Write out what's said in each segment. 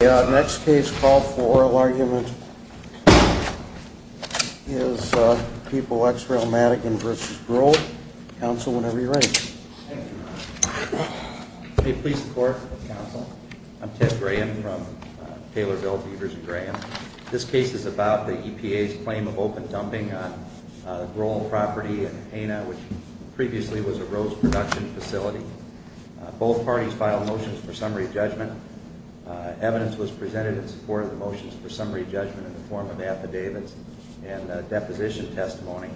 The next case called for oral argument is People x Rail Madigan v. Groll. Counsel, whenever you're ready. Thank you. May it please the court. I'm Ted Graham from Taylorville Beavers & Graham. This case is about the EPA's claim of open dumping on Groll property in Haina, which previously was a rose production facility. Both parties filed motions for summary judgment. Evidence was presented in support of the motions for summary judgment in the form of affidavits and deposition testimony.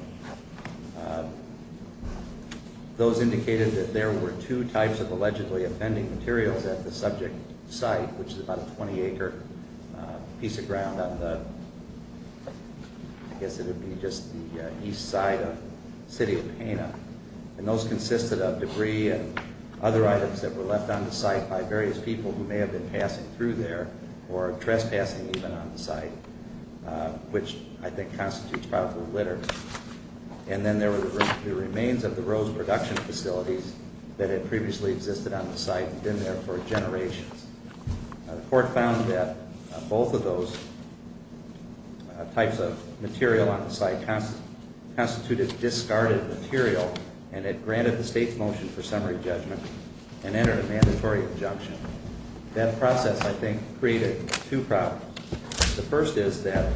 Those indicated that there were two types of allegedly offending materials at the subject site, which is about a 20-acre piece of ground on the, I guess it would be just the east side of the city of Haina. And those consisted of debris and other items that were left on the site by various people who may have been passing through there or trespassing even on the site, which I think constitutes probable litter. And then there were the remains of the rose production facilities that had previously existed on the site and been there for generations. The court found that both of those types of material on the site constituted discarded material and it granted the state's motion for summary judgment and entered a mandatory injunction. That process, I think, created two problems. The first is that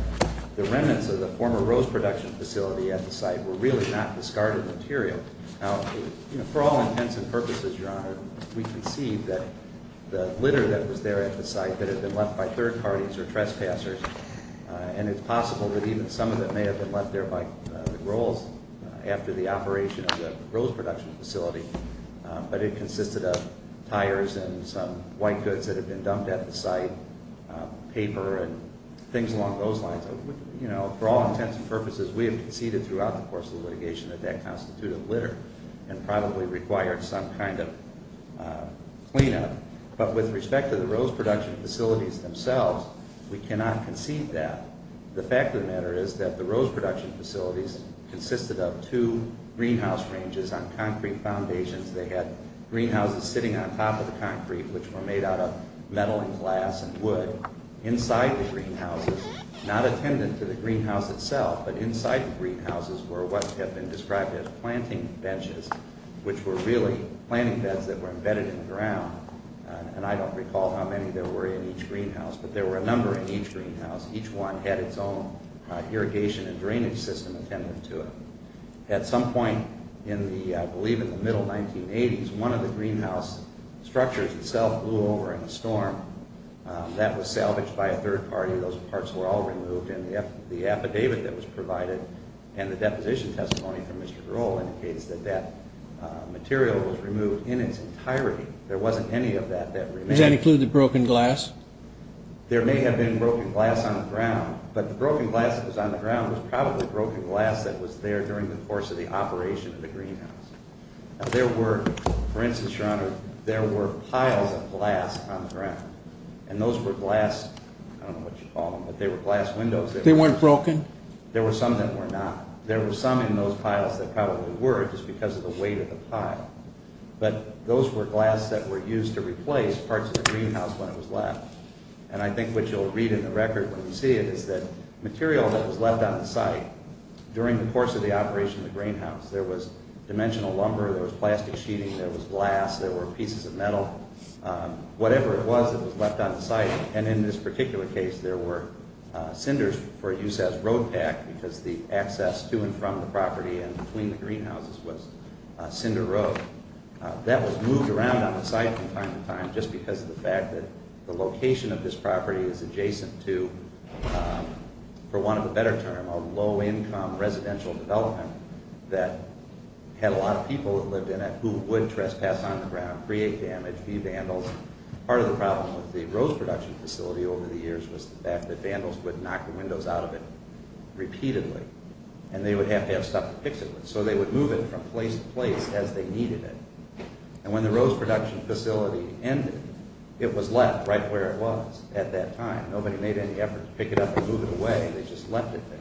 the remnants of the former rose production facility at the site were really not discarded material. Now, you know, for all intents and purposes, Your Honor, we concede that the litter that was there at the site that had been left by third parties or trespassers, and it's possible that even some of it may have been left there by the girls after the operation of the rose production facility, but it consisted of tires and some white goods that had been dumped at the site, paper and things along those lines. You know, for all intents and purposes, we have conceded throughout the course of the litigation that that constituted litter and probably required some kind of cleanup. But with respect to the rose production facilities themselves, we cannot concede that. The fact of the matter is that the rose production facilities consisted of two greenhouse ranges on concrete foundations. They had greenhouses sitting on top of the concrete, which were made out of metal and glass and wood, inside the greenhouses, not attendant to the greenhouse itself, but inside the greenhouses were what have been described as planting benches, which were really planting beds that were embedded in the ground. And I don't recall how many there were in each greenhouse, but there were a number in each greenhouse. Each one had its own irrigation and drainage system attendant to it. At some point in the, I believe in the middle 1980s, one of the greenhouse structures itself blew over in a storm. That was salvaged by a third party. Those parts were all removed, and the affidavit that was provided and the deposition testimony from Mr. Grohl indicates that that material was removed in its entirety. There wasn't any of that that remained. Does that include the broken glass? There may have been broken glass on the ground, but the broken glass that was on the ground was probably broken glass that was there during the course of the operation of the greenhouse. Now there were, for instance, Your Honor, there were piles of glass on the ground, and those were glass, I don't know what you call them, but they were glass windows. They weren't broken? There were some that were not. There were some in those piles that probably were just because of the weight of the pile. But those were glass that were used to replace parts of the greenhouse when it was left. And I think what you'll read in the record when you see it is that material that was left on the site during the course of the operation of the greenhouse, there was dimensional lumber, there was plastic sheeting, there was glass, there were pieces of metal, whatever it was that was left on the site, and in this particular case there were cinders for use as road pack because the access to and from the property and between the greenhouses was cinder road. That was moved around on the site from time to time just because of the fact that the location of this property is adjacent to, for want of a better term, a low-income residential development that had a lot of people that lived in it who would trespass on the ground, create damage, be vandals. Part of the problem with the Rose Production Facility over the years was the fact that vandals would knock the windows out of it repeatedly, and they would have to have stuff to fix it with, so they would move it from place to place as they needed it. And when the Rose Production Facility ended, it was left right where it was at that time. Nobody made any effort to pick it up or move it away, they just left it there.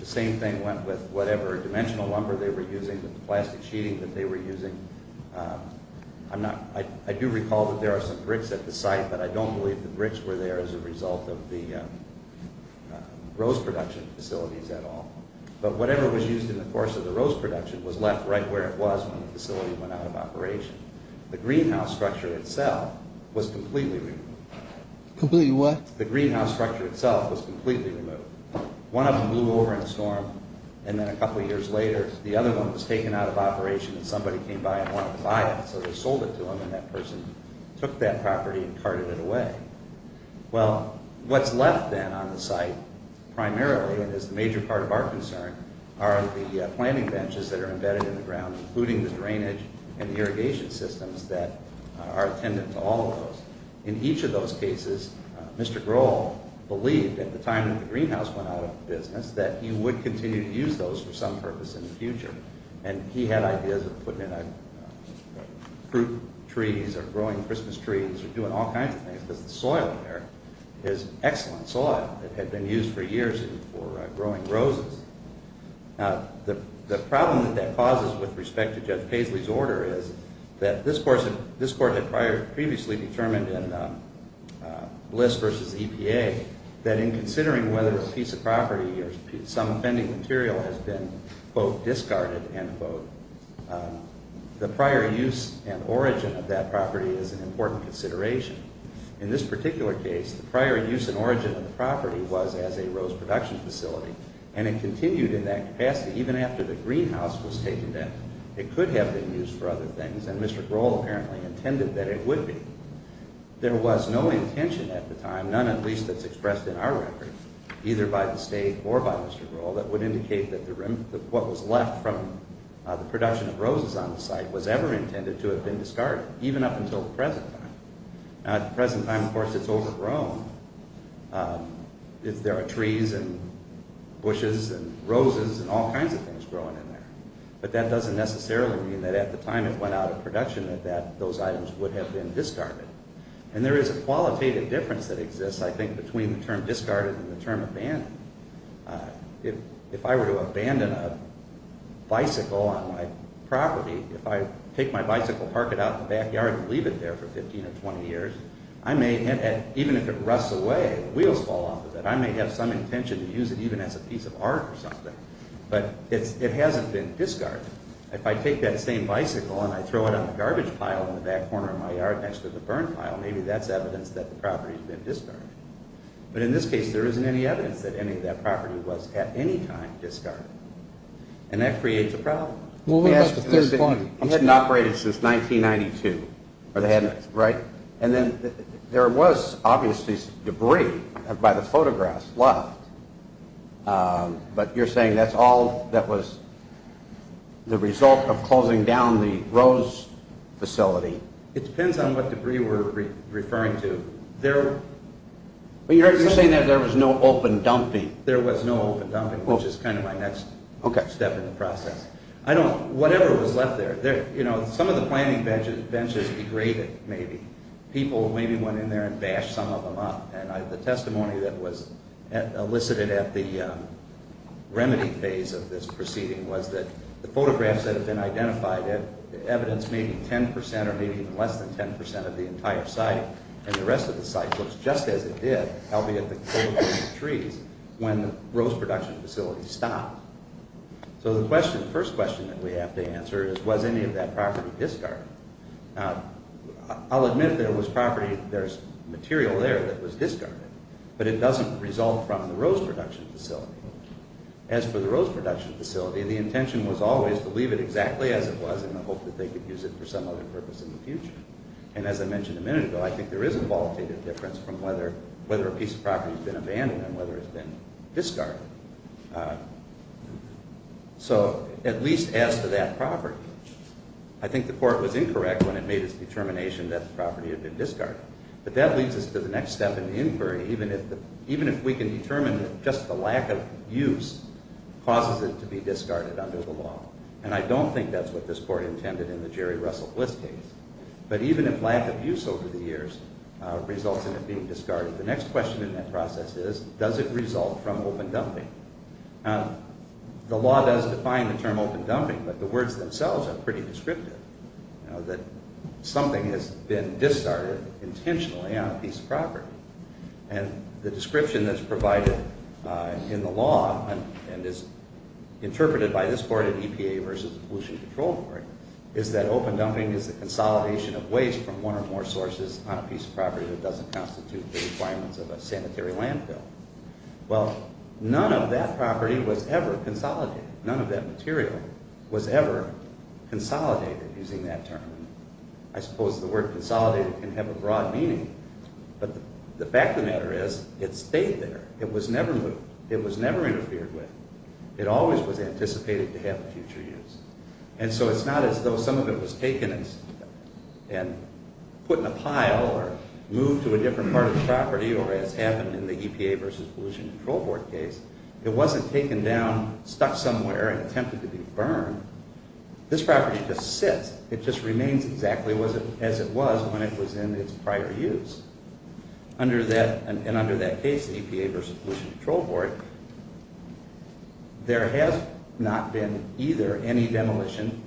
The same thing went with whatever dimensional lumber they were using, with the plastic sheeting that they were using. I do recall that there are some bricks at the site, but I don't believe the bricks were there as a result of the Rose Production Facilities at all. But whatever was used in the course of the Rose Production was left right where it was when the facility went out of operation. The greenhouse structure itself was completely removed. Completely what? The greenhouse structure itself was completely removed. One of them blew over in a storm, and then a couple years later, the other one was taken out of operation, and somebody came by and wanted to buy it, so they sold it to them, and that person took that property and carted it away. Well, what's left then on the site, primarily, and is a major part of our concern, are the planting benches that are embedded in the ground, including the drainage and irrigation systems that are attendant to all of those. In each of those cases, Mr. Grohl believed at the time that the greenhouse went out of business that he would continue to use those for some purpose in the future, and he had ideas of putting in fruit trees or growing Christmas trees or doing all kinds of things because the soil in there is excellent soil. It had been used for years for growing roses. The problem that that causes with respect to Judge Paisley's order is that this Court had previously determined in Bliss v. EPA that in considering whether a piece of property or some offending material has been, quote, discarded, end quote, the prior use and origin of that property is an important consideration. In this particular case, the prior use and origin of the property was as a rose production facility, and it continued in that capacity even after the greenhouse was taken down. It could have been used for other things, and Mr. Grohl apparently intended that it would be. There was no intention at the time, none at least that's expressed in our record, either by the State or by Mr. Grohl, that would indicate that what was left from the production of roses on the site was ever intended to have been discarded, even up until the present time. At the present time, of course, it's overgrown. There are trees and bushes and roses and all kinds of things growing in there. But that doesn't necessarily mean that at the time it went out of production that those items would have been discarded. And there is a qualitative difference that exists, I think, between the term discarded and the term abandoned. If I were to abandon a bicycle on my property, if I take my bicycle, park it out in the backyard and leave it there for 15 or 20 years, I may, even if it rusts away, the wheels fall off of it, I may have some intention to use it even as a piece of art or something. But it hasn't been discarded. If I take that same bicycle and I throw it on the garbage pile in the back corner of my yard next to the burn pile, maybe that's evidence that the property's been discarded. But in this case, there isn't any evidence that any of that property was at any time discarded. And that creates a problem. Let me ask you this. It hadn't operated since 1992, right? And then there was obviously debris by the photographs left. But you're saying that's all that was the result of closing down the Rose facility. It depends on what debris we're referring to. You're saying that there was no open dumping. There was no open dumping, which is kind of my next step in the process. I don't, whatever was left there. Some of the planning benches degraded, maybe. People maybe went in there and bashed some of them up. And the testimony that was elicited at the remedy phase of this proceeding was that the photographs that have been identified, evidence may be 10% or maybe even less than 10% of the entire site, and the rest of the site looks just as it did, albeit the trees, when the Rose production facility stopped. So the first question that we have to answer is, was any of that property discarded? I'll admit that it was property, there's material there that was discarded. But it doesn't result from the Rose production facility. As for the Rose production facility, the intention was always to leave it exactly as it was in the hope that they could use it for some other purpose in the future. And as I mentioned a minute ago, I think there is a qualitative difference from whether a piece of property has been abandoned and whether it's been discarded. So at least as to that property, I think the court was incorrect when it made its determination that the property had been discarded. But that leads us to the next step in the inquiry, even if we can determine that just the lack of use causes it to be discarded under the law. And I don't think that's what this court intended in the Jerry Russell Bliss case. But even if lack of use over the years results in it being discarded, the next question in that process is, does it result from open dumping? Now, the law does define the term open dumping, but the words themselves are pretty descriptive. That something has been discarded intentionally on a piece of property. And the description that's provided in the law and is interpreted by this court at EPA versus the Pollution Control Court is that open dumping is the consolidation of waste from one or more sources on a piece of property that doesn't constitute the requirements of a sanitary landfill. Well, none of that property was ever consolidated. None of that material was ever consolidated, using that term. I suppose the word consolidated can have a broad meaning, but the fact of the matter is, it stayed there. It was never moved. It was never interfered with. It always was anticipated to have future use. And so it's not as though some of it was taken and put in a pile or moved to a different part of the property or as happened in the EPA versus Pollution Control Board case. It wasn't taken down, stuck somewhere, and attempted to be burned. This property just sits. It just remains exactly as it was when it was in its prior use. And under that case, the EPA versus Pollution Control Board, there has not been either any demolition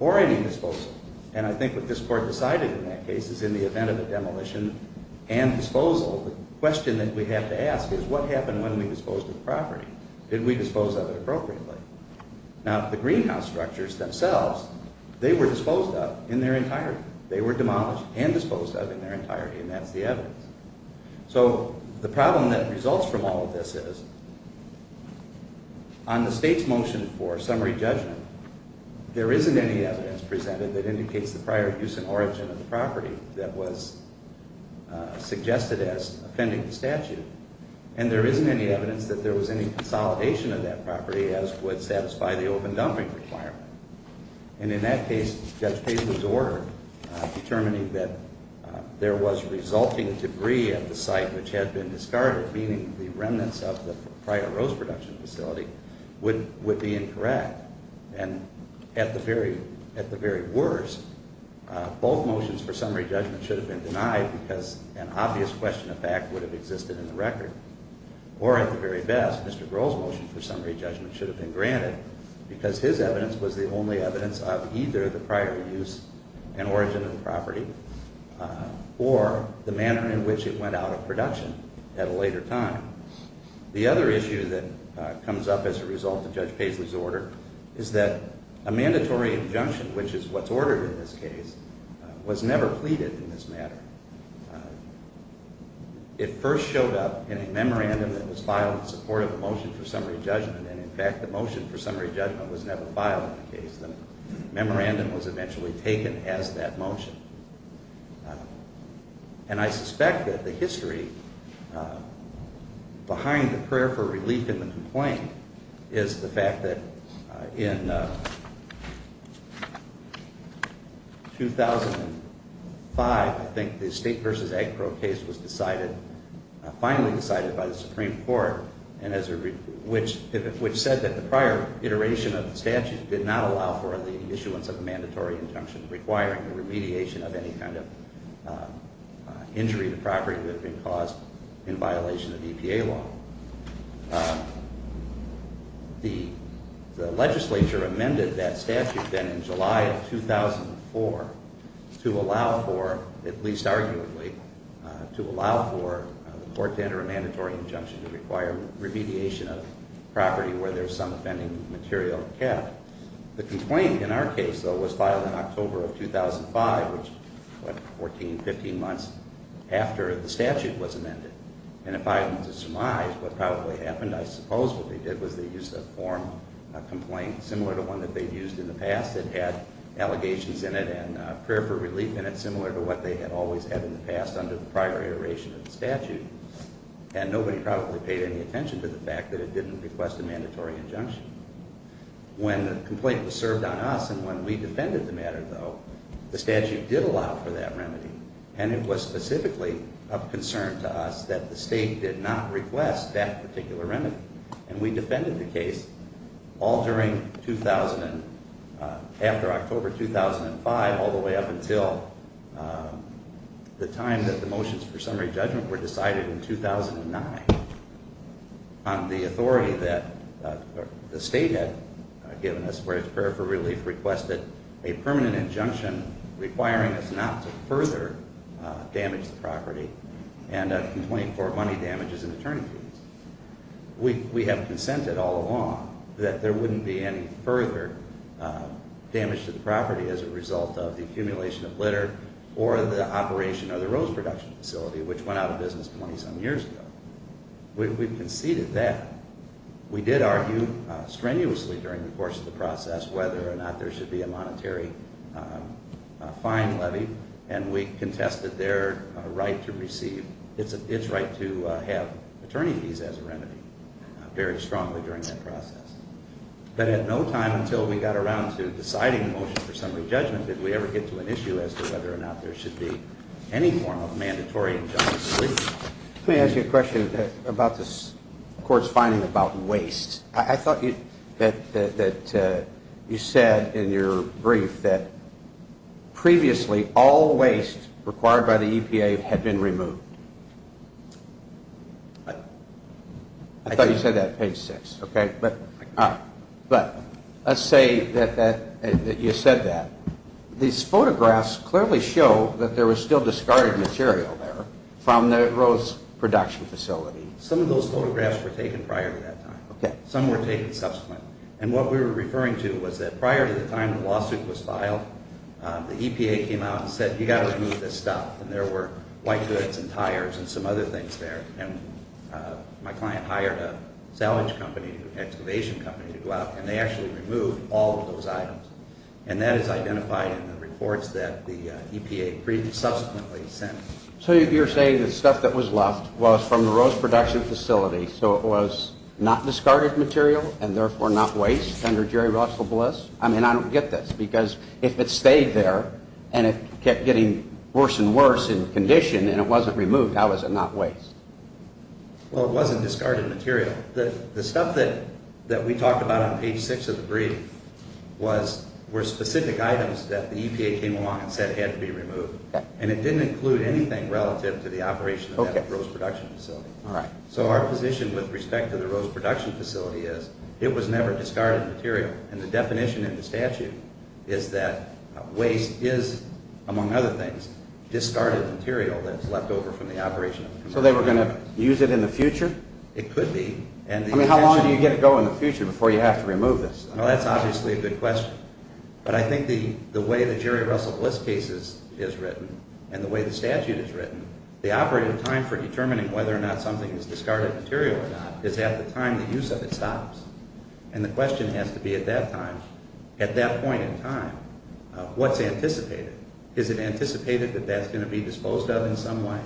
or any disposal. And I think what this Court decided in that case is in the event of a demolition and disposal, the question that we have to ask is, what happened when we disposed of the property? Did we dispose of it appropriately? Now, the greenhouse structures themselves, they were disposed of in their entirety. They were demolished and disposed of in their entirety, and that's the evidence. So the problem that results from all of this is, on the State's motion for summary judgment, there isn't any evidence presented that indicates the prior use and origin of the property that was suggested as offending the statute, and there isn't any evidence that there was any consolidation of that property as would satisfy the open dumping requirement. And in that case, Judge Paisley's order, determining that there was resulting debris at the site which had been discarded, meaning the remnants of the prior rose production facility, would be incorrect. And at the very worst, both motions for summary judgment should have been denied because an obvious question of fact would have existed in the record. Or at the very best, Mr. Grohl's motion for summary judgment should have been granted because his evidence was the only evidence of either the prior use and origin of the property or the manner in which it went out of production at a later time. The other issue that comes up as a result of Judge Paisley's order is that a mandatory injunction, which is what's ordered in this case, was never pleaded in this matter. It first showed up in a memorandum that was filed in support of a motion for summary judgment, and, in fact, the motion for summary judgment was never filed in the case. The memorandum was eventually taken as that motion. And I suspect that the history behind the prayer for relief in the complaint is the fact that in 2005, I think, the State v. Agpro case was finally decided by the Supreme Court which said that the prior iteration of the statute did not allow for the issuance of a mandatory injunction requiring the remediation of any kind of injury to property that had been caused in violation of EPA law. The legislature amended that statute then in July of 2004 to allow for, at least arguably, to allow for the court to enter a mandatory injunction to require remediation of property where there's some offending material kept. The complaint in our case, though, was filed in October of 2005, which was 14, 15 months after the statute was amended. And if I'm to surmise, what probably happened, I suppose, what they did was they used a form complaint similar to one that they've used in the past. It had allegations in it and a prayer for relief in it passed under the prior iteration of the statute, and nobody probably paid any attention to the fact that it didn't request a mandatory injunction. When the complaint was served on us and when we defended the matter, though, the statute did allow for that remedy, and it was specifically of concern to us that the State did not request that particular remedy. And we defended the case all during 2000 and after October 2005 all the way up until the time that the motions for summary judgment were decided in 2009 on the authority that the State had given us where its prayer for relief requested a permanent injunction requiring us not to further damage the property and a complaint for money damages and attorney fees. We have consented all along that there wouldn't be any further damage to the property as a result of the accumulation of litter or the operation of the rose production facility, which went out of business 20-some years ago. We've conceded that. We did argue strenuously during the course of the process whether or not there should be a monetary fine levy, and we contested their right to receive, its right to have attorney fees as a remedy very strongly during that process. But at no time until we got around to deciding the motion for summary judgment did we ever get to an issue as to whether or not there should be any form of mandatory injunction. Let me ask you a question about this Court's finding about waste. I thought that you said in your brief that previously all waste required by the EPA had been removed. I thought you said that at page 6. But let's say that you said that. These photographs clearly show that there was still discarded material there from the rose production facility. Some of those photographs were taken prior to that time. Some were taken subsequently. And what we were referring to was that prior to the time the lawsuit was filed, the EPA came out and said you've got to remove this stuff, and there were white goods and tires and some other things there. My client hired a salvage company, an excavation company to go out, and they actually removed all of those items. And that is identified in the reports that the EPA subsequently sent. So you're saying the stuff that was left was from the rose production facility, so it was not discarded material and therefore not waste under Jerry Russell Bliss? I mean, I don't get this because if it stayed there and it kept getting worse and worse in condition and it wasn't removed, how is it not waste? Well, it wasn't discarded material. The stuff that we talked about on page 6 of the brief were specific items that the EPA came along and said had to be removed, and it didn't include anything relative to the operation of that rose production facility. So our position with respect to the rose production facility is it was never discarded material, and the definition in the statute is that waste is, among other things, discarded material that's left over from the operation. So they were going to use it in the future? It could be. I mean, how long do you get to go in the future before you have to remove this? Well, that's obviously a good question. But I think the way the Jerry Russell Bliss case is written and the way the statute is written, the operating time for determining whether or not something is discarded material or not is at the time the use of it stops. And the question has to be at that time, at that point in time, what's anticipated? Is it anticipated that that's going to be disposed of in some way?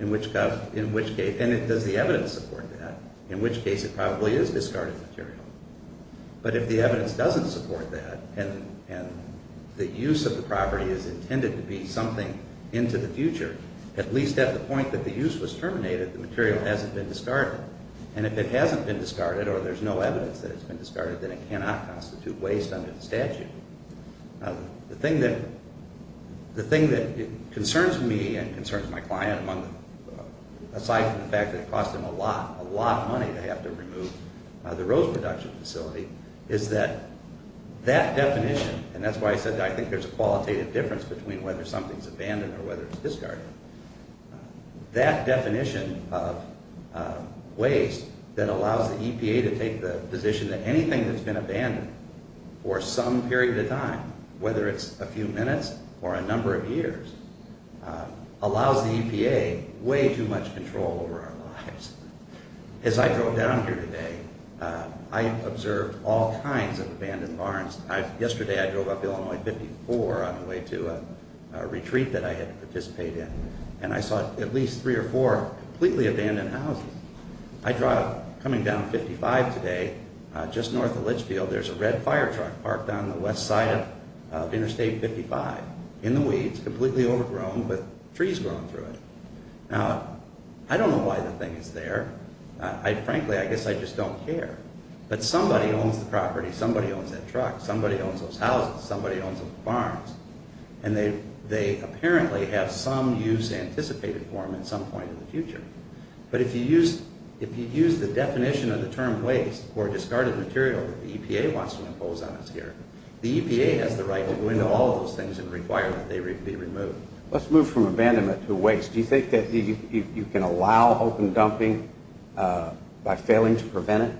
In which case? And does the evidence support that? In which case it probably is discarded material. But if the evidence doesn't support that and the use of the property is intended to be something into the future, at least at the point that the use was terminated, the material hasn't been discarded. And if it hasn't been discarded or there's no evidence that it's been discarded, then it cannot constitute waste under the statute. The thing that concerns me and concerns my client, aside from the fact that it cost him a lot, a lot of money to have to remove the rose production facility, is that that definition, and that's why I said I think there's a qualitative difference between whether something's abandoned or whether it's discarded, that definition of waste that allows the EPA to take the position that anything that's been abandoned for some period of time, whether it's a few minutes or a number of years, allows the EPA way too much control over our lives. As I drove down here today, I observed all kinds of abandoned barns. Yesterday I drove up Illinois 54 on the way to a retreat that I had to participate in, and I saw at least three or four completely abandoned houses. Coming down 55 today, just north of Litchfield, there's a red fire truck parked on the west side of Interstate 55, in the weeds, completely overgrown with trees growing through it. Now, I don't know why the thing is there. Frankly, I guess I just don't care. But somebody owns the property, somebody owns that truck, somebody owns those houses, somebody owns those barns, But if you use the definition of the term waste or discarded material that the EPA wants to impose on us here, the EPA has the right to go into all of those things and require that they be removed. Let's move from abandonment to waste. Do you think that you can allow open dumping by failing to prevent it?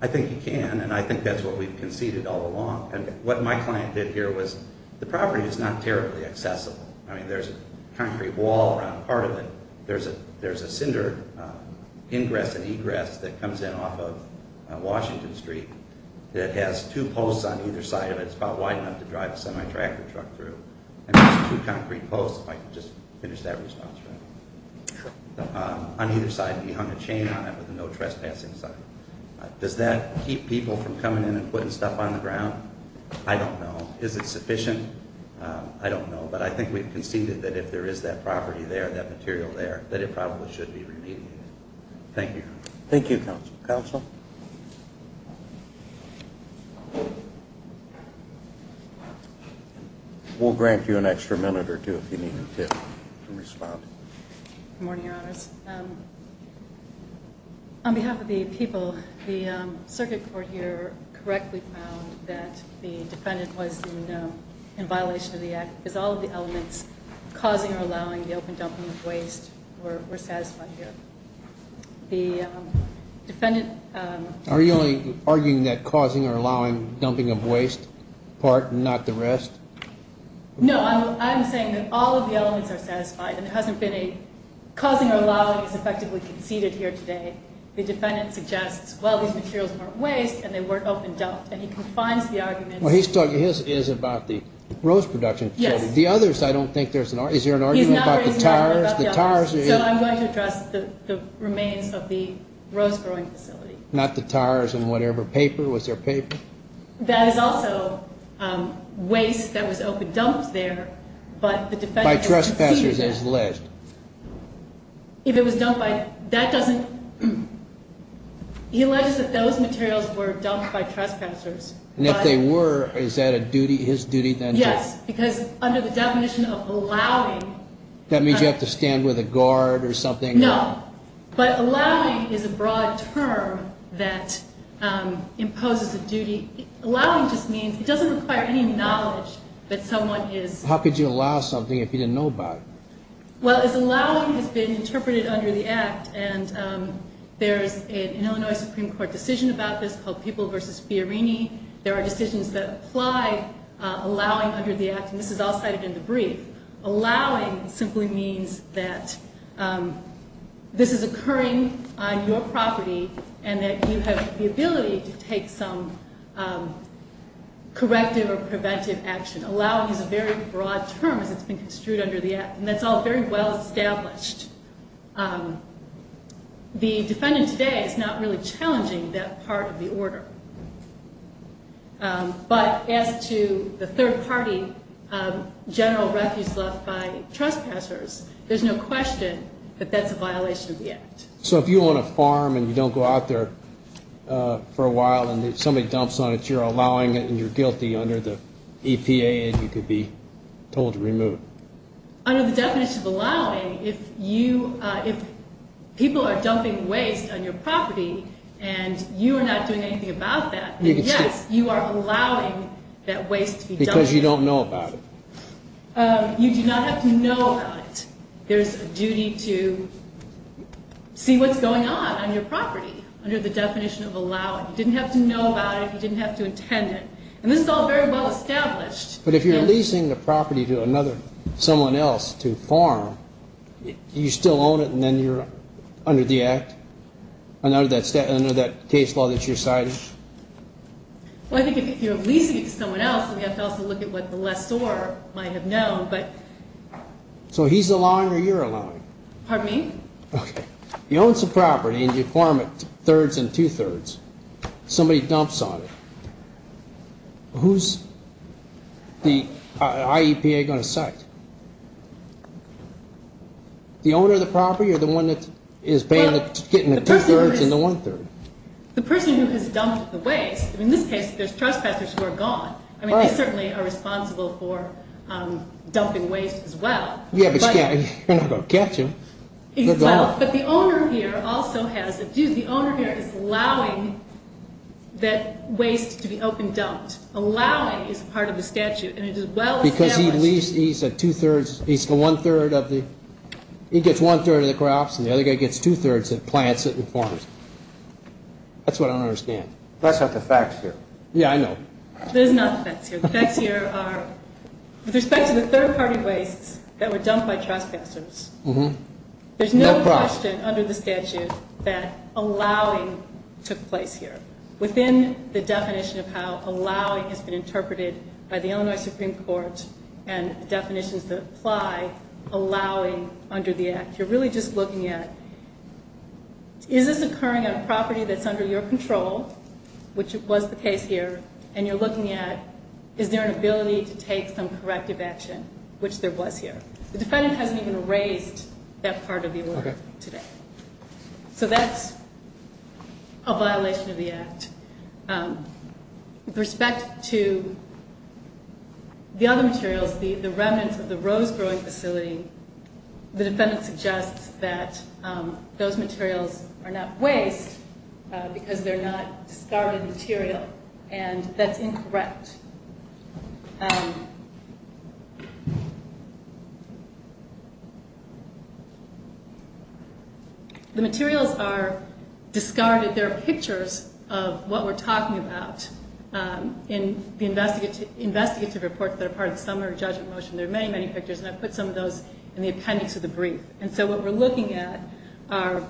I think you can, and I think that's what we've conceded all along. What my client did here was, the property is not terribly accessible. I mean, there's a concrete wall around part of it. There's a cinder ingress and egress that comes in off of Washington Street that has two posts on either side of it. It's about wide enough to drive a semi-tractor truck through. And there's two concrete posts, if I could just finish that response, right? Sure. On either side, he hung a chain on it with a no trespassing sign. Does that keep people from coming in and putting stuff on the ground? I don't know. Is it sufficient? I don't know. But I think we've conceded that if there is that property there, that material there, that it probably should be remediated. Thank you. Thank you, counsel. Counsel? We'll grant you an extra minute or two if you need to respond. Good morning, Your Honors. On behalf of the people, the circuit court here correctly found that the defendant was in violation of the act because all of the elements causing or allowing the open dumping of waste were satisfied here. The defendant – Are you only arguing that causing or allowing dumping of waste part and not the rest? No, I'm saying that all of the elements are satisfied and there hasn't been a causing or allowing is effectively conceded here today. The defendant suggests, well, these materials weren't waste and they weren't open dumped, and he confines the argument. Well, he's talking – his is about the rose production facility. Yes. The others, I don't think there's an – is there an argument about the tars? He's not arguing about the others. The tars? So I'm going to address the remains of the rose growing facility. Not the tars and whatever. Was there paper? That is also waste that was open dumped there, but the defendant conceded it. By trespassers, as alleged. If it was dumped by – that doesn't – he alleges that those materials were dumped by trespassers. And if they were, is that a duty – his duty then to – Yes, because under the definition of allowing – That means you have to stand with a guard or something? No, but allowing is a broad term that imposes a duty. Allowing just means it doesn't require any knowledge that someone is – How could you allow something if you didn't know about it? Well, as allowing has been interpreted under the Act, and there's an Illinois Supreme Court decision about this called People v. Fiorini. There are decisions that apply allowing under the Act, and this is all cited in the brief. Allowing simply means that this is occurring on your property and that you have the ability to take some corrective or preventive action. Allowing is a very broad term as it's been construed under the Act, and that's all very well established. The defendant today is not really challenging that part of the order. But as to the third-party general refuse left by trespassers, there's no question that that's a violation of the Act. So if you own a farm and you don't go out there for a while and somebody dumps on it, because you're allowing it and you're guilty under the EPA and you could be told to remove it. Under the definition of allowing, if people are dumping waste on your property and you are not doing anything about that, then yes, you are allowing that waste to be dumped. Because you don't know about it. You do not have to know about it. There's a duty to see what's going on on your property under the definition of allowing. You didn't have to know about it. You didn't have to intend it. And this is all very well established. But if you're leasing the property to someone else to farm, do you still own it and then you're under that case law that you're citing? Well, I think if you're leasing it to someone else, then you have to also look at what the lessor might have known. So he's allowing or you're allowing? Pardon me? Okay. You own some property and you farm it thirds and two-thirds. Somebody dumps on it. Who's the IEPA going to cite? The owner of the property or the one that is getting the two-thirds and the one-third? The person who has dumped the waste. In this case, there's trespassers who are gone. I mean, they certainly are responsible for dumping waste as well. Yeah, but you're not going to catch them. But the owner here is allowing that waste to be open dumped. Allowing is part of the statute, and it is well established. Because he gets one-third of the crops and the other guy gets two-thirds and plants it and farms it. That's what I don't understand. That's not the facts here. Yeah, I know. That is not the facts here. With respect to the third-party wastes that were dumped by trespassers, there's no question under the statute that allowing took place here. Within the definition of how allowing has been interpreted by the Illinois Supreme Court and the definitions that apply allowing under the Act, you're really just looking at is this occurring on a property that's under your control, which was the case here, and you're looking at is there an ability to take some corrective action, which there was here. The defendant hasn't even raised that part of the award today. So that's a violation of the Act. With respect to the other materials, the remnants of the rose growing facility, the defendant suggests that those materials are not waste because they're not discarded material, and that's incorrect. The materials are discarded. There are pictures of what we're talking about in the investigative reports that are part of the summary judgment motion. There are many, many pictures, and I put some of those in the appendix of the brief. And so what we're looking at are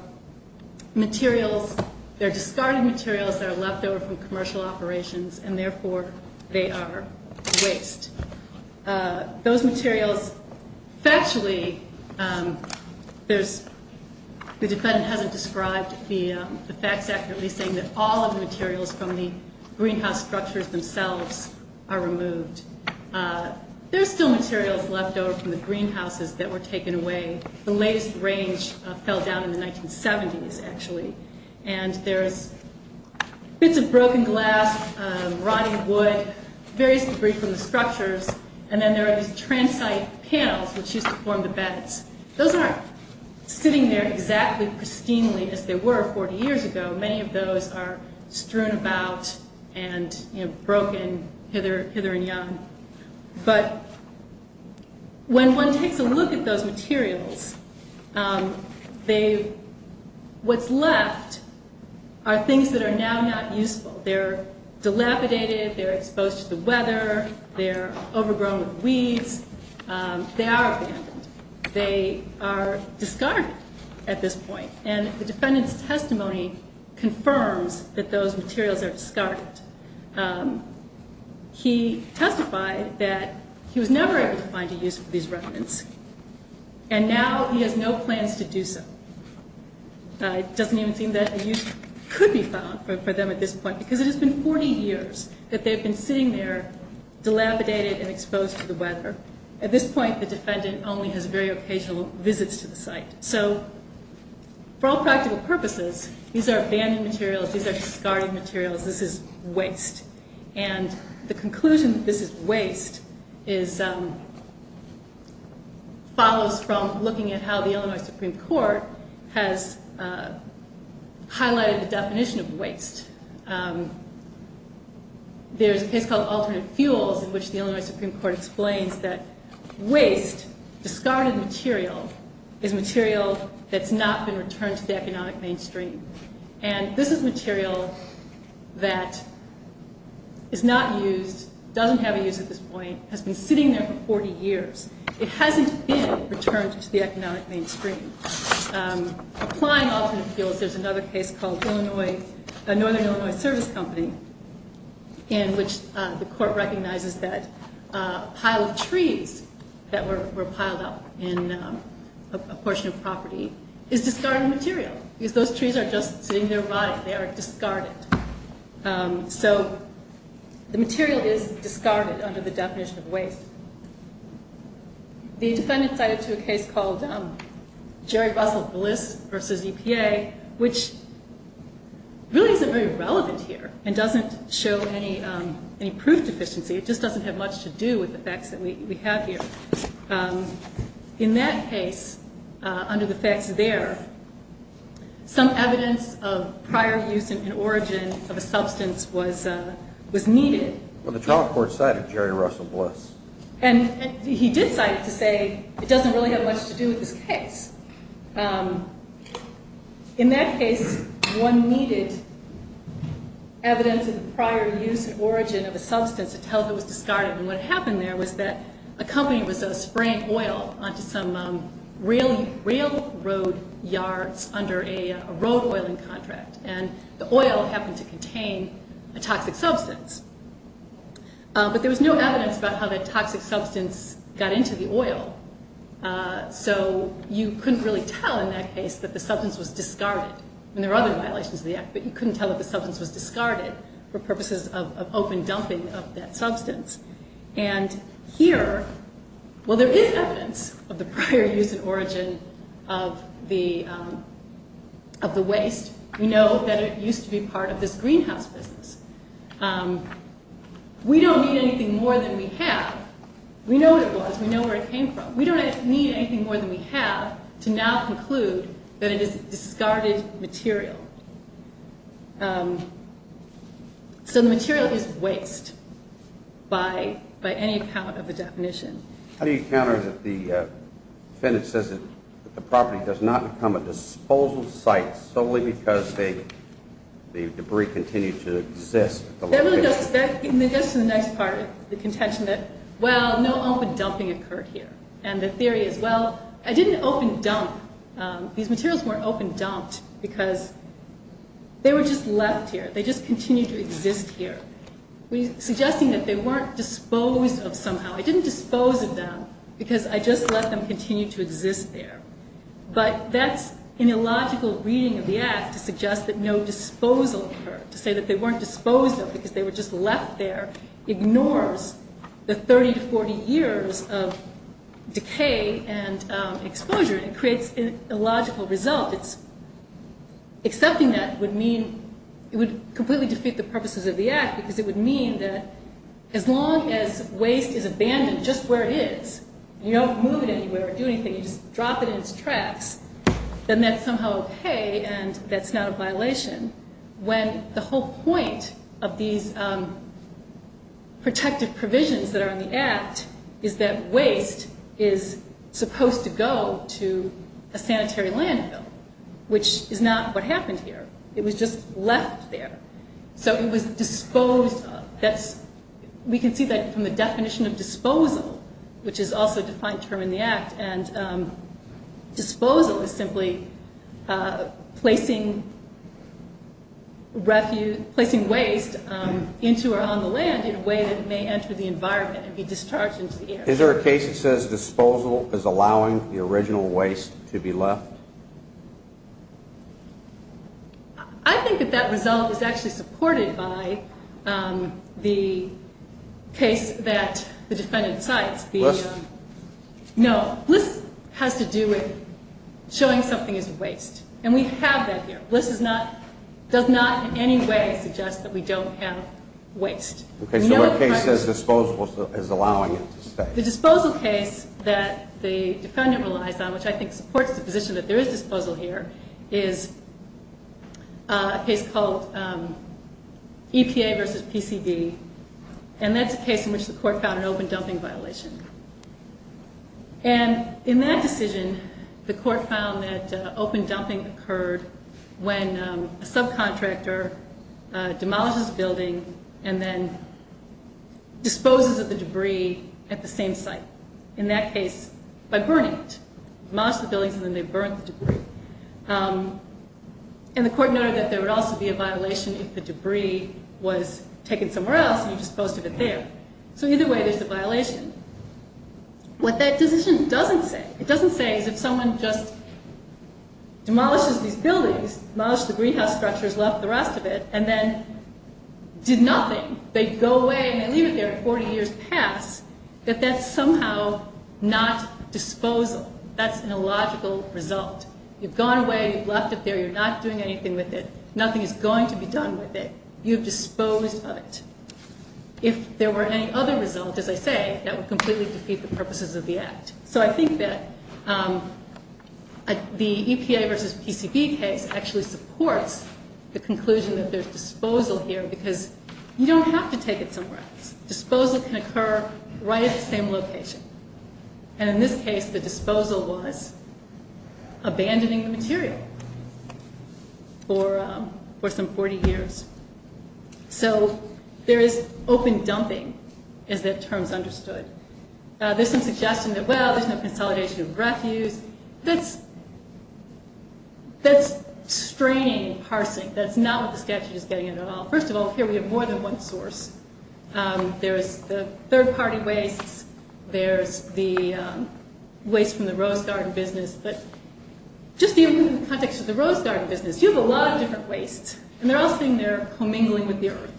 materials, they're discarded materials that are left over from commercial operations, and therefore they are waste. Those materials, factually, the defendant hasn't described the facts accurately, saying that all of the materials from the greenhouse structures themselves are removed. There's still materials left over from the greenhouses that were taken away. The latest range fell down in the 1970s, actually. And there's bits of broken glass, rotting wood, various debris from the structures, and then there are these transite panels which used to form the beds. Those aren't sitting there exactly pristinely as they were 40 years ago. Many of those are strewn about and broken hither and yon. But when one takes a look at those materials, what's left are things that are now not useful. They're dilapidated, they're exposed to the weather, they're overgrown with weeds. They are abandoned. They are discarded at this point. And the defendant's testimony confirms that those materials are discarded. He testified that he was never able to find a use for these remnants, and now he has no plans to do so. It doesn't even seem that a use could be found for them at this point because it has been 40 years that they've been sitting there, dilapidated and exposed to the weather. At this point, the defendant only has very occasional visits to the site. So for all practical purposes, these are abandoned materials, these are discarded materials, this is waste. And the conclusion that this is waste follows from looking at how the Illinois Supreme Court has highlighted the definition of waste. There's a case called Alternate Fuels in which the Illinois Supreme Court explains that waste, discarded material, is material that's not been returned to the economic mainstream. And this is material that is not used, doesn't have a use at this point, has been sitting there for 40 years. It hasn't been returned to the economic mainstream. Applying Alternate Fuels, there's another case called Northern Illinois Service Company in which the court recognizes that a pile of trees that were piled up in a portion of property is discarded material because those trees are just sitting there rotting. They are discarded. So the material is discarded under the definition of waste. The defendant cited to a case called Jerry Russell Bliss v. EPA, which really isn't very relevant here and doesn't show any proof deficiency. It just doesn't have much to do with the facts that we have here. In that case, under the facts there, some evidence of prior use and origin of a substance was needed. Well, the trial court cited Jerry Russell Bliss. And he did cite it to say it doesn't really have much to do with this case. In that case, one needed evidence of prior use and origin of a substance to tell if it was discarded. And what happened there was that a company was spraying oil onto some railroad yards under a road oiling contract. And the oil happened to contain a toxic substance. But there was no evidence about how that toxic substance got into the oil. So you couldn't really tell in that case that the substance was discarded. And there are other violations of the act, but you couldn't tell that the substance was discarded for purposes of open dumping of that substance. And here, well, there is evidence of the prior use and origin of the waste. We know that it used to be part of this greenhouse business. We don't need anything more than we have. We know what it was. We know where it came from. We don't need anything more than we have to now conclude that it is a discarded material. So the material is waste by any account of the definition. How do you counter that the defendant says that the property does not become a disposal site solely because the debris continues to exist? That really goes to the next part of the contention that, well, no open dumping occurred here. And the theory is, well, I didn't open dump. These materials weren't open dumped because they were just left here. They just continued to exist here, suggesting that they weren't disposed of somehow. I didn't dispose of them because I just let them continue to exist there. But that's an illogical reading of the act to suggest that no disposal occurred, to say that they weren't disposed of because they were just left there ignores the 30 to 40 years of decay and exposure and creates an illogical result. Accepting that would mean it would completely defeat the purposes of the act because it would mean that as long as waste is abandoned just where it is, you don't move it anywhere or do anything, you just drop it in its tracks, then that's somehow okay and that's not a violation. When the whole point of these protective provisions that are in the act is that waste is supposed to go to a sanitary landfill, which is not what happened here. It was just left there. So it was disposed of. We can see that from the definition of disposal, which is also a defined term in the act, and disposal is simply placing waste into or on the land in a way that it may enter the environment and be discharged into the air. Is there a case that says disposal is allowing the original waste to be left? I think that that result is actually supported by the case that the defendant cites. Bliss? No. Bliss has to do with showing something is waste, and we have that here. Bliss does not in any way suggest that we don't have waste. Okay. So the case says disposal is allowing it to stay. The disposal case that the defendant relies on, which I think supports the position that there is disposal here, is a case called EPA versus PCV, and that's a case in which the court found an open dumping violation. And in that decision, the court found that open dumping occurred when a subcontractor demolishes a building and then disposes of the debris at the same site, in that case by burning it. They demolish the buildings and then they burn the debris. And the court noted that there would also be a violation if the debris was taken somewhere else and you disposed of it there. So either way there's a violation. What that decision doesn't say, it doesn't say is if someone just demolishes these buildings, demolishes the greenhouse structures, left the rest of it, and then did nothing, they go away and they leave it there and 40 years pass, that that's somehow not disposal. That's an illogical result. You've gone away, you've left it there, you're not doing anything with it. Nothing is going to be done with it. You've disposed of it. If there were any other result, as I say, that would completely defeat the purposes of the act. So I think that the EPA versus PCB case actually supports the conclusion that there's disposal here because you don't have to take it somewhere else. Disposal can occur right at the same location. And in this case, the disposal was abandoning the material for some 40 years. So there is open dumping, as that term is understood. There's some suggestion that, well, there's no consolidation of refuse. That's straining and parsing. That's not what the statute is getting at all. First of all, here we have more than one source. There's the third-party wastes. There's the waste from the Rose Garden business. But just in the context of the Rose Garden business, you have a lot of different wastes, and they're all sitting there commingling with the earth.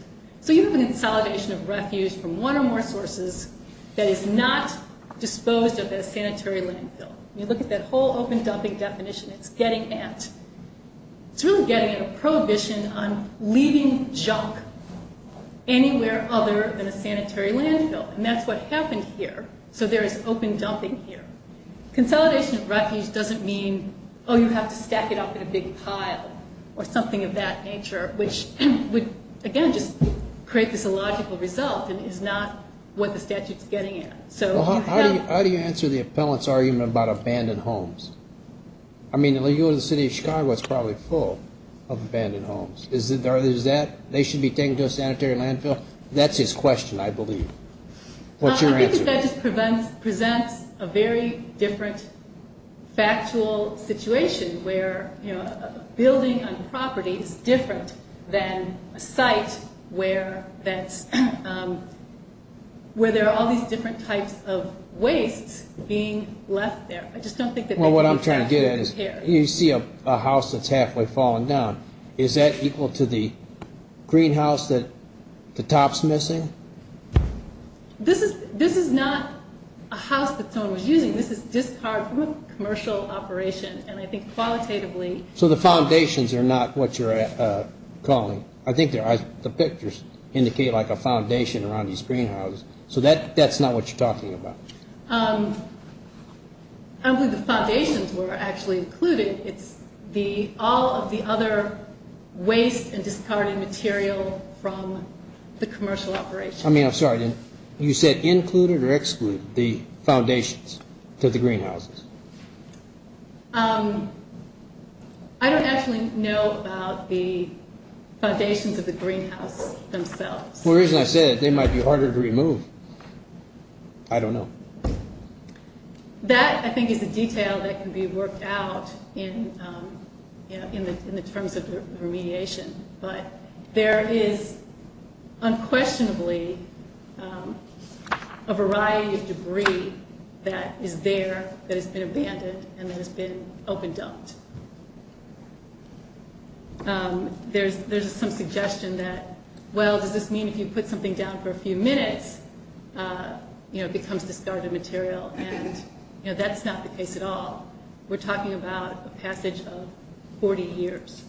So you have a consolidation of refuse from one or more sources that is not disposed of in a sanitary landfill. You look at that whole open dumping definition, it's getting at, it's really getting at a prohibition on leaving junk anywhere other than a sanitary landfill. And that's what happened here. So there is open dumping here. Consolidation of refuse doesn't mean, oh, you have to stack it up in a big pile or something of that nature, which would, again, just create this illogical result and is not what the statute's getting at. How do you answer the appellant's argument about abandoned homes? I mean, if you go to the city of Chicago, it's probably full of abandoned homes. Is that, they should be taken to a sanitary landfill? That's his question, I believe. What's your answer? I think that that just presents a very different factual situation where a building on property is different than a site where there are all these different types of wastes being left there. Well, what I'm trying to get at is, you see a house that's halfway fallen down. Is that equal to the greenhouse that the top's missing? This is not a house that someone was using. This is discarded from a commercial operation, and I think qualitatively. So the foundations are not what you're calling. I think the pictures indicate like a foundation around these greenhouses. So that's not what you're talking about. I don't believe the foundations were actually included. It's all of the other waste and discarded material from the commercial operation. I mean, I'm sorry. You said included or excluded the foundations to the greenhouses. I don't actually know about the foundations of the greenhouse themselves. The reason I say that, they might be harder to remove. I don't know. That, I think, is a detail that can be worked out in the terms of remediation. But there is unquestionably a variety of debris that is there, that has been abandoned, and that has been open dumped. There's some suggestion that, well, does this mean if you put something down for a few minutes, you know, it becomes discarded material. And, you know, that's not the case at all. We're talking about a passage of 40 years.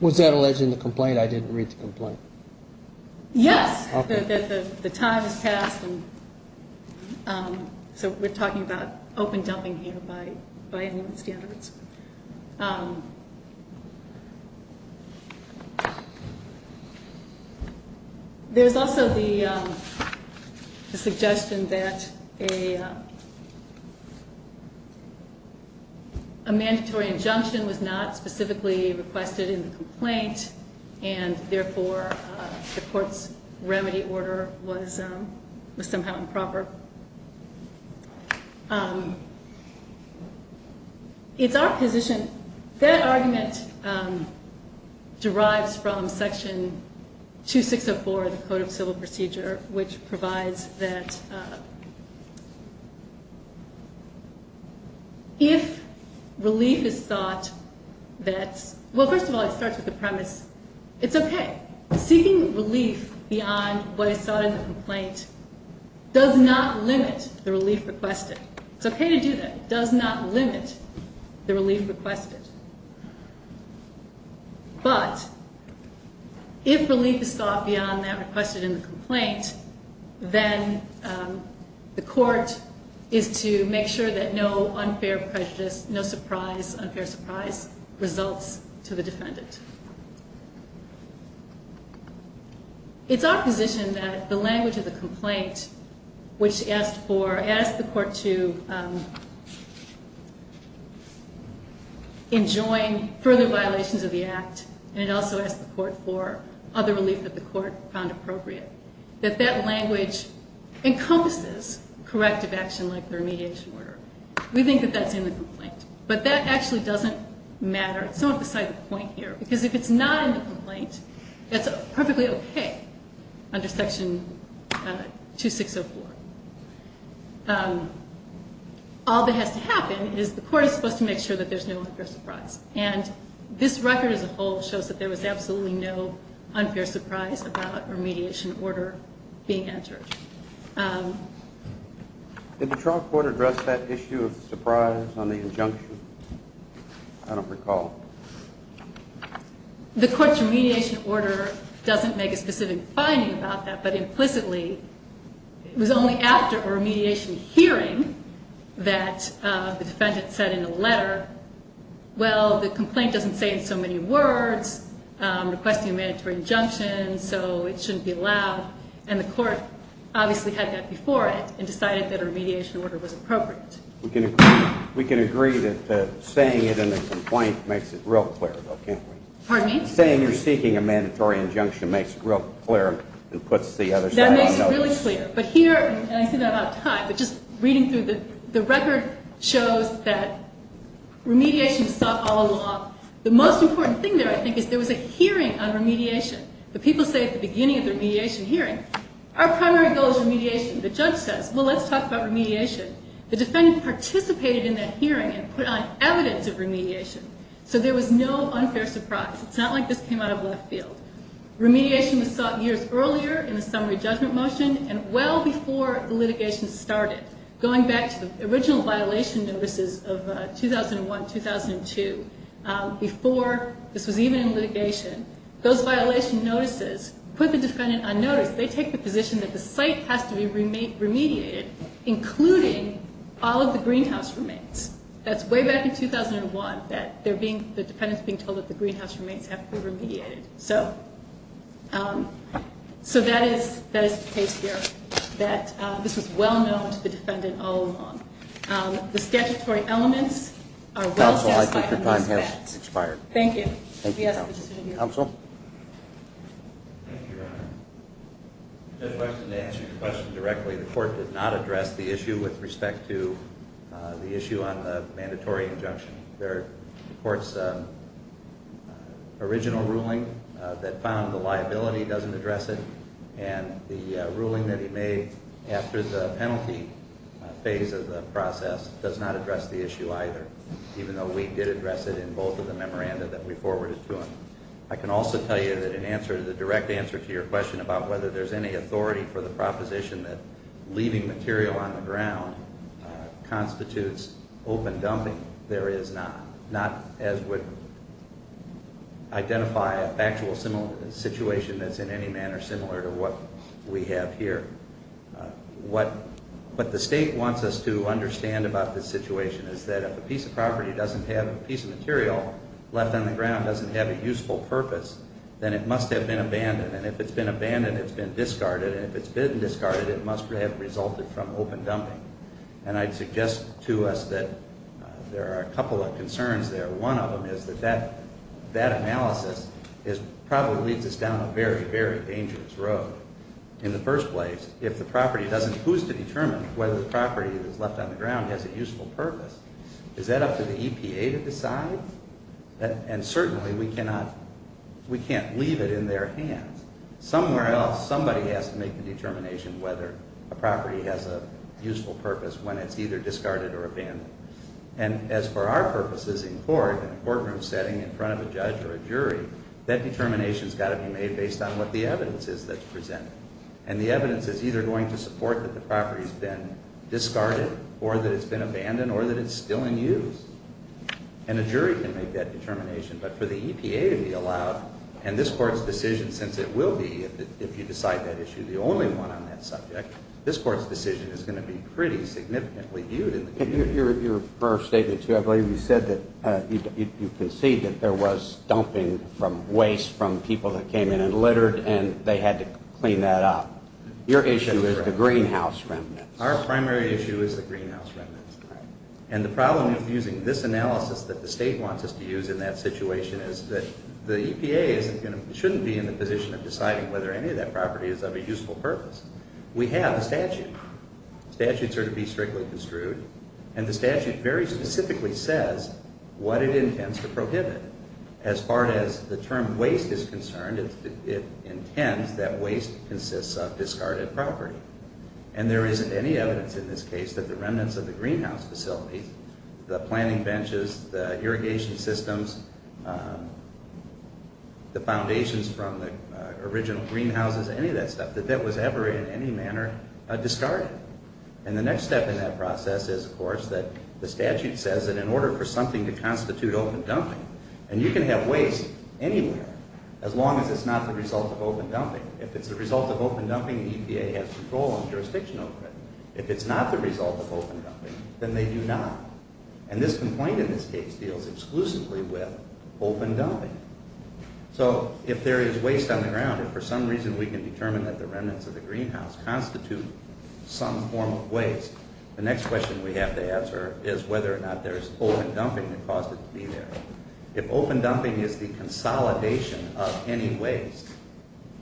Was that alleging the complaint? I didn't read the complaint. Yes. Okay. The time has passed, so we're talking about open dumping here by human standards. There's also the suggestion that a mandatory injunction was not specifically requested in the complaint, and, therefore, the court's remedy order was somehow improper. It's our position that argument derives from Section 2604 of the Code of Civil Procedure, which provides that if relief is sought that's, well, first of all, it starts with the premise, it's okay. Seeking relief beyond what is sought in the complaint does not limit the relief requested. It's okay to do that. It does not limit the relief requested. But if relief is sought beyond that requested in the complaint, then the court is to make sure that no unfair prejudice, no surprise, unfair surprise results to the defendant. It's our position that the language of the complaint, which asked the court to enjoin further violations of the act, and it also asked the court for other relief that the court found appropriate, that that language encompasses corrective action like the remediation order. We think that that's in the complaint. But that actually doesn't matter. It's not beside the point here because if it's not in the complaint, it's perfectly okay under Section 2604. All that has to happen is the court is supposed to make sure that there's no unfair surprise. And this record as a whole shows that there was absolutely no unfair surprise about remediation order being entered. Did the trial court address that issue of surprise on the injunction? I don't recall. The court's remediation order doesn't make a specific finding about that, but implicitly it was only after a remediation hearing that the defendant said in a letter, well, the complaint doesn't say in so many words, requesting a mandatory injunction, so it shouldn't be allowed, and the court obviously had that before it and decided that a remediation order was appropriate. We can agree that saying it in a complaint makes it real clear, though, can't we? Pardon me? Saying you're seeking a mandatory injunction makes it real clear and puts the other side on notice. That makes it really clear. But here, and I see that I'm out of time, but just reading through, the record shows that remediation was sought all along. The most important thing there, I think, is there was a hearing on remediation. The people say at the beginning of the remediation hearing, our primary goal is remediation. The judge says, well, let's talk about remediation. The defendant participated in that hearing and put on evidence of remediation, so there was no unfair surprise. It's not like this came out of left field. Remediation was sought years earlier in the summary judgment motion and well before the litigation started, going back to the original violation notices of 2001-2002, before this was even in litigation, those violation notices put the defendant on notice. They take the position that the site has to be remediated, including all of the greenhouse remains. That's way back in 2001, that the defendant's being told that the greenhouse remains have to be remediated. So that is the case here, that this was well known to the defendant all along. The statutory elements are well testified in this event. Counsel, I think your time has expired. Thank you. Thank you, counsel. Counsel? Thank you, Your Honor. Just to answer your question directly, the court did not address the issue with respect to the issue on the mandatory injunction. The court's original ruling that found the liability doesn't address it, and the ruling that he made after the penalty phase of the process does not address the issue either, even though we did address it in both of the memoranda that we forwarded to him. I can also tell you that the direct answer to your question about whether there's any authority for the proposition that leaving material on the ground constitutes open dumping, there is not, not as would identify a factual situation that's in any manner similar to what we have here. What the state wants us to understand about this situation is that if a piece of property doesn't have a piece of material left on the ground, doesn't have a useful purpose, then it must have been abandoned. And if it's been abandoned, it's been discarded. And if it's been discarded, it must have resulted from open dumping. And I'd suggest to us that there are a couple of concerns there. One of them is that that analysis probably leads us down a very, very dangerous road. In the first place, if the property doesn't, who's to determine whether the property that's left on the ground has a useful purpose? Is that up to the EPA to decide? And certainly we cannot, we can't leave it in their hands. Somewhere else, somebody has to make the determination whether a property has a useful purpose when it's either discarded or abandoned. And as for our purposes in court, in a courtroom setting in front of a judge or a jury, that determination's got to be made based on what the evidence is that's presented. And the evidence is either going to support that the property's been discarded or that it's been abandoned or that it's still in use. And a jury can make that determination. But for the EPA to be allowed, and this Court's decision, since it will be, if you decide that issue, the only one on that subject, this Court's decision is going to be pretty significantly viewed in the community. Your first statement, too, I believe you said that you concede that there was dumping from waste from people that came in and littered, and they had to clean that up. Your issue is the greenhouse remnants. Our primary issue is the greenhouse remnants. And the problem with using this analysis that the State wants us to use in that situation is that the EPA shouldn't be in the position of deciding whether any of that property is of a useful purpose. We have a statute. Statutes are to be strictly construed. And the statute very specifically says what it intends to prohibit. As far as the term waste is concerned, it intends that waste consists of discarded property. And there isn't any evidence in this case that the remnants of the greenhouse facilities, the planting benches, the irrigation systems, the foundations from the original greenhouses, any of that stuff, that that was ever in any manner discarded. And the next step in that process is, of course, that the statute says that in order for something to constitute open dumping, and you can have waste anywhere as long as it's not the result of open dumping. If it's the result of open dumping, the EPA has control and jurisdiction over it. If it's not the result of open dumping, then they do not. And this complaint in this case deals exclusively with open dumping. So if there is waste on the ground, if for some reason we can determine that the remnants of the greenhouse constitute some form of waste, the next question we have to answer is whether or not there's open dumping that caused it to be there. If open dumping is the consolidation of any waste,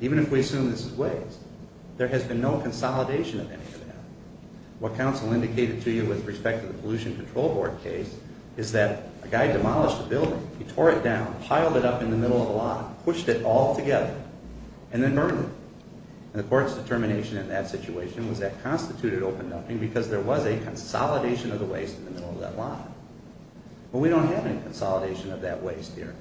even if we assume this is waste, there has been no consolidation of any of that. What counsel indicated to you with respect to the Pollution Control Board case is that a guy demolished a building, he tore it down, piled it up in the middle of a lot, pushed it all together, and then burned it. And the court's determination in that situation was that constituted open dumping because there was a consolidation of the waste in the middle of that lot. But we don't have any consolidation of that waste here.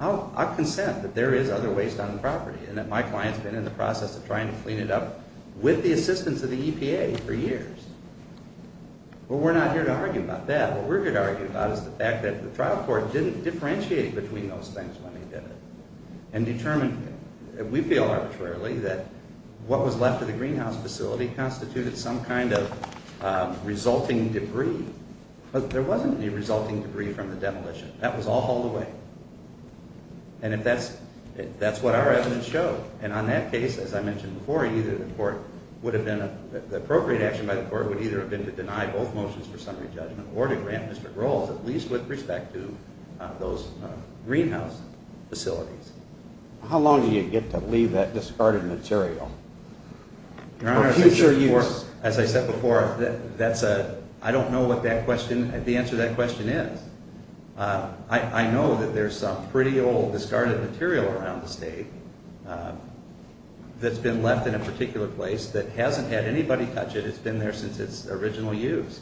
I'll consent that there is other waste on the property and that my client's been in the process of trying to clean it up with the assistance of the EPA for years. But we're not here to argue about that. What we're here to argue about is the fact that the trial court didn't differentiate between those things when they did it and determined, we feel arbitrarily, that what was left of the greenhouse facility constituted some kind of resulting debris. There wasn't any resulting debris from the demolition. That was all hauled away. And that's what our evidence showed. And on that case, as I mentioned before, the appropriate action by the court would either have been to deny both motions for summary judgment or to grant district roles, at least with respect to those greenhouse facilities. How long do you get to leave that discarded material for future use? As I said before, I don't know what the answer to that question is. I know that there's some pretty old discarded material around the state that's been left in a particular place that hasn't had anybody touch it. It's been there since its original use.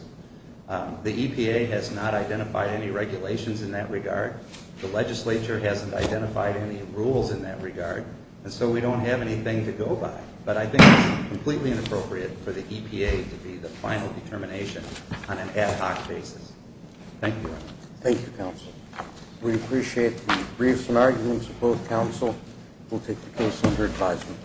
The EPA has not identified any regulations in that regard. The legislature hasn't identified any rules in that regard. And so we don't have anything to go by. But I think it's completely inappropriate for the EPA to be the final determination on an ad hoc basis. Thank you. Thank you, counsel. We appreciate the briefs and arguments of both counsel. We'll take the case under advisement.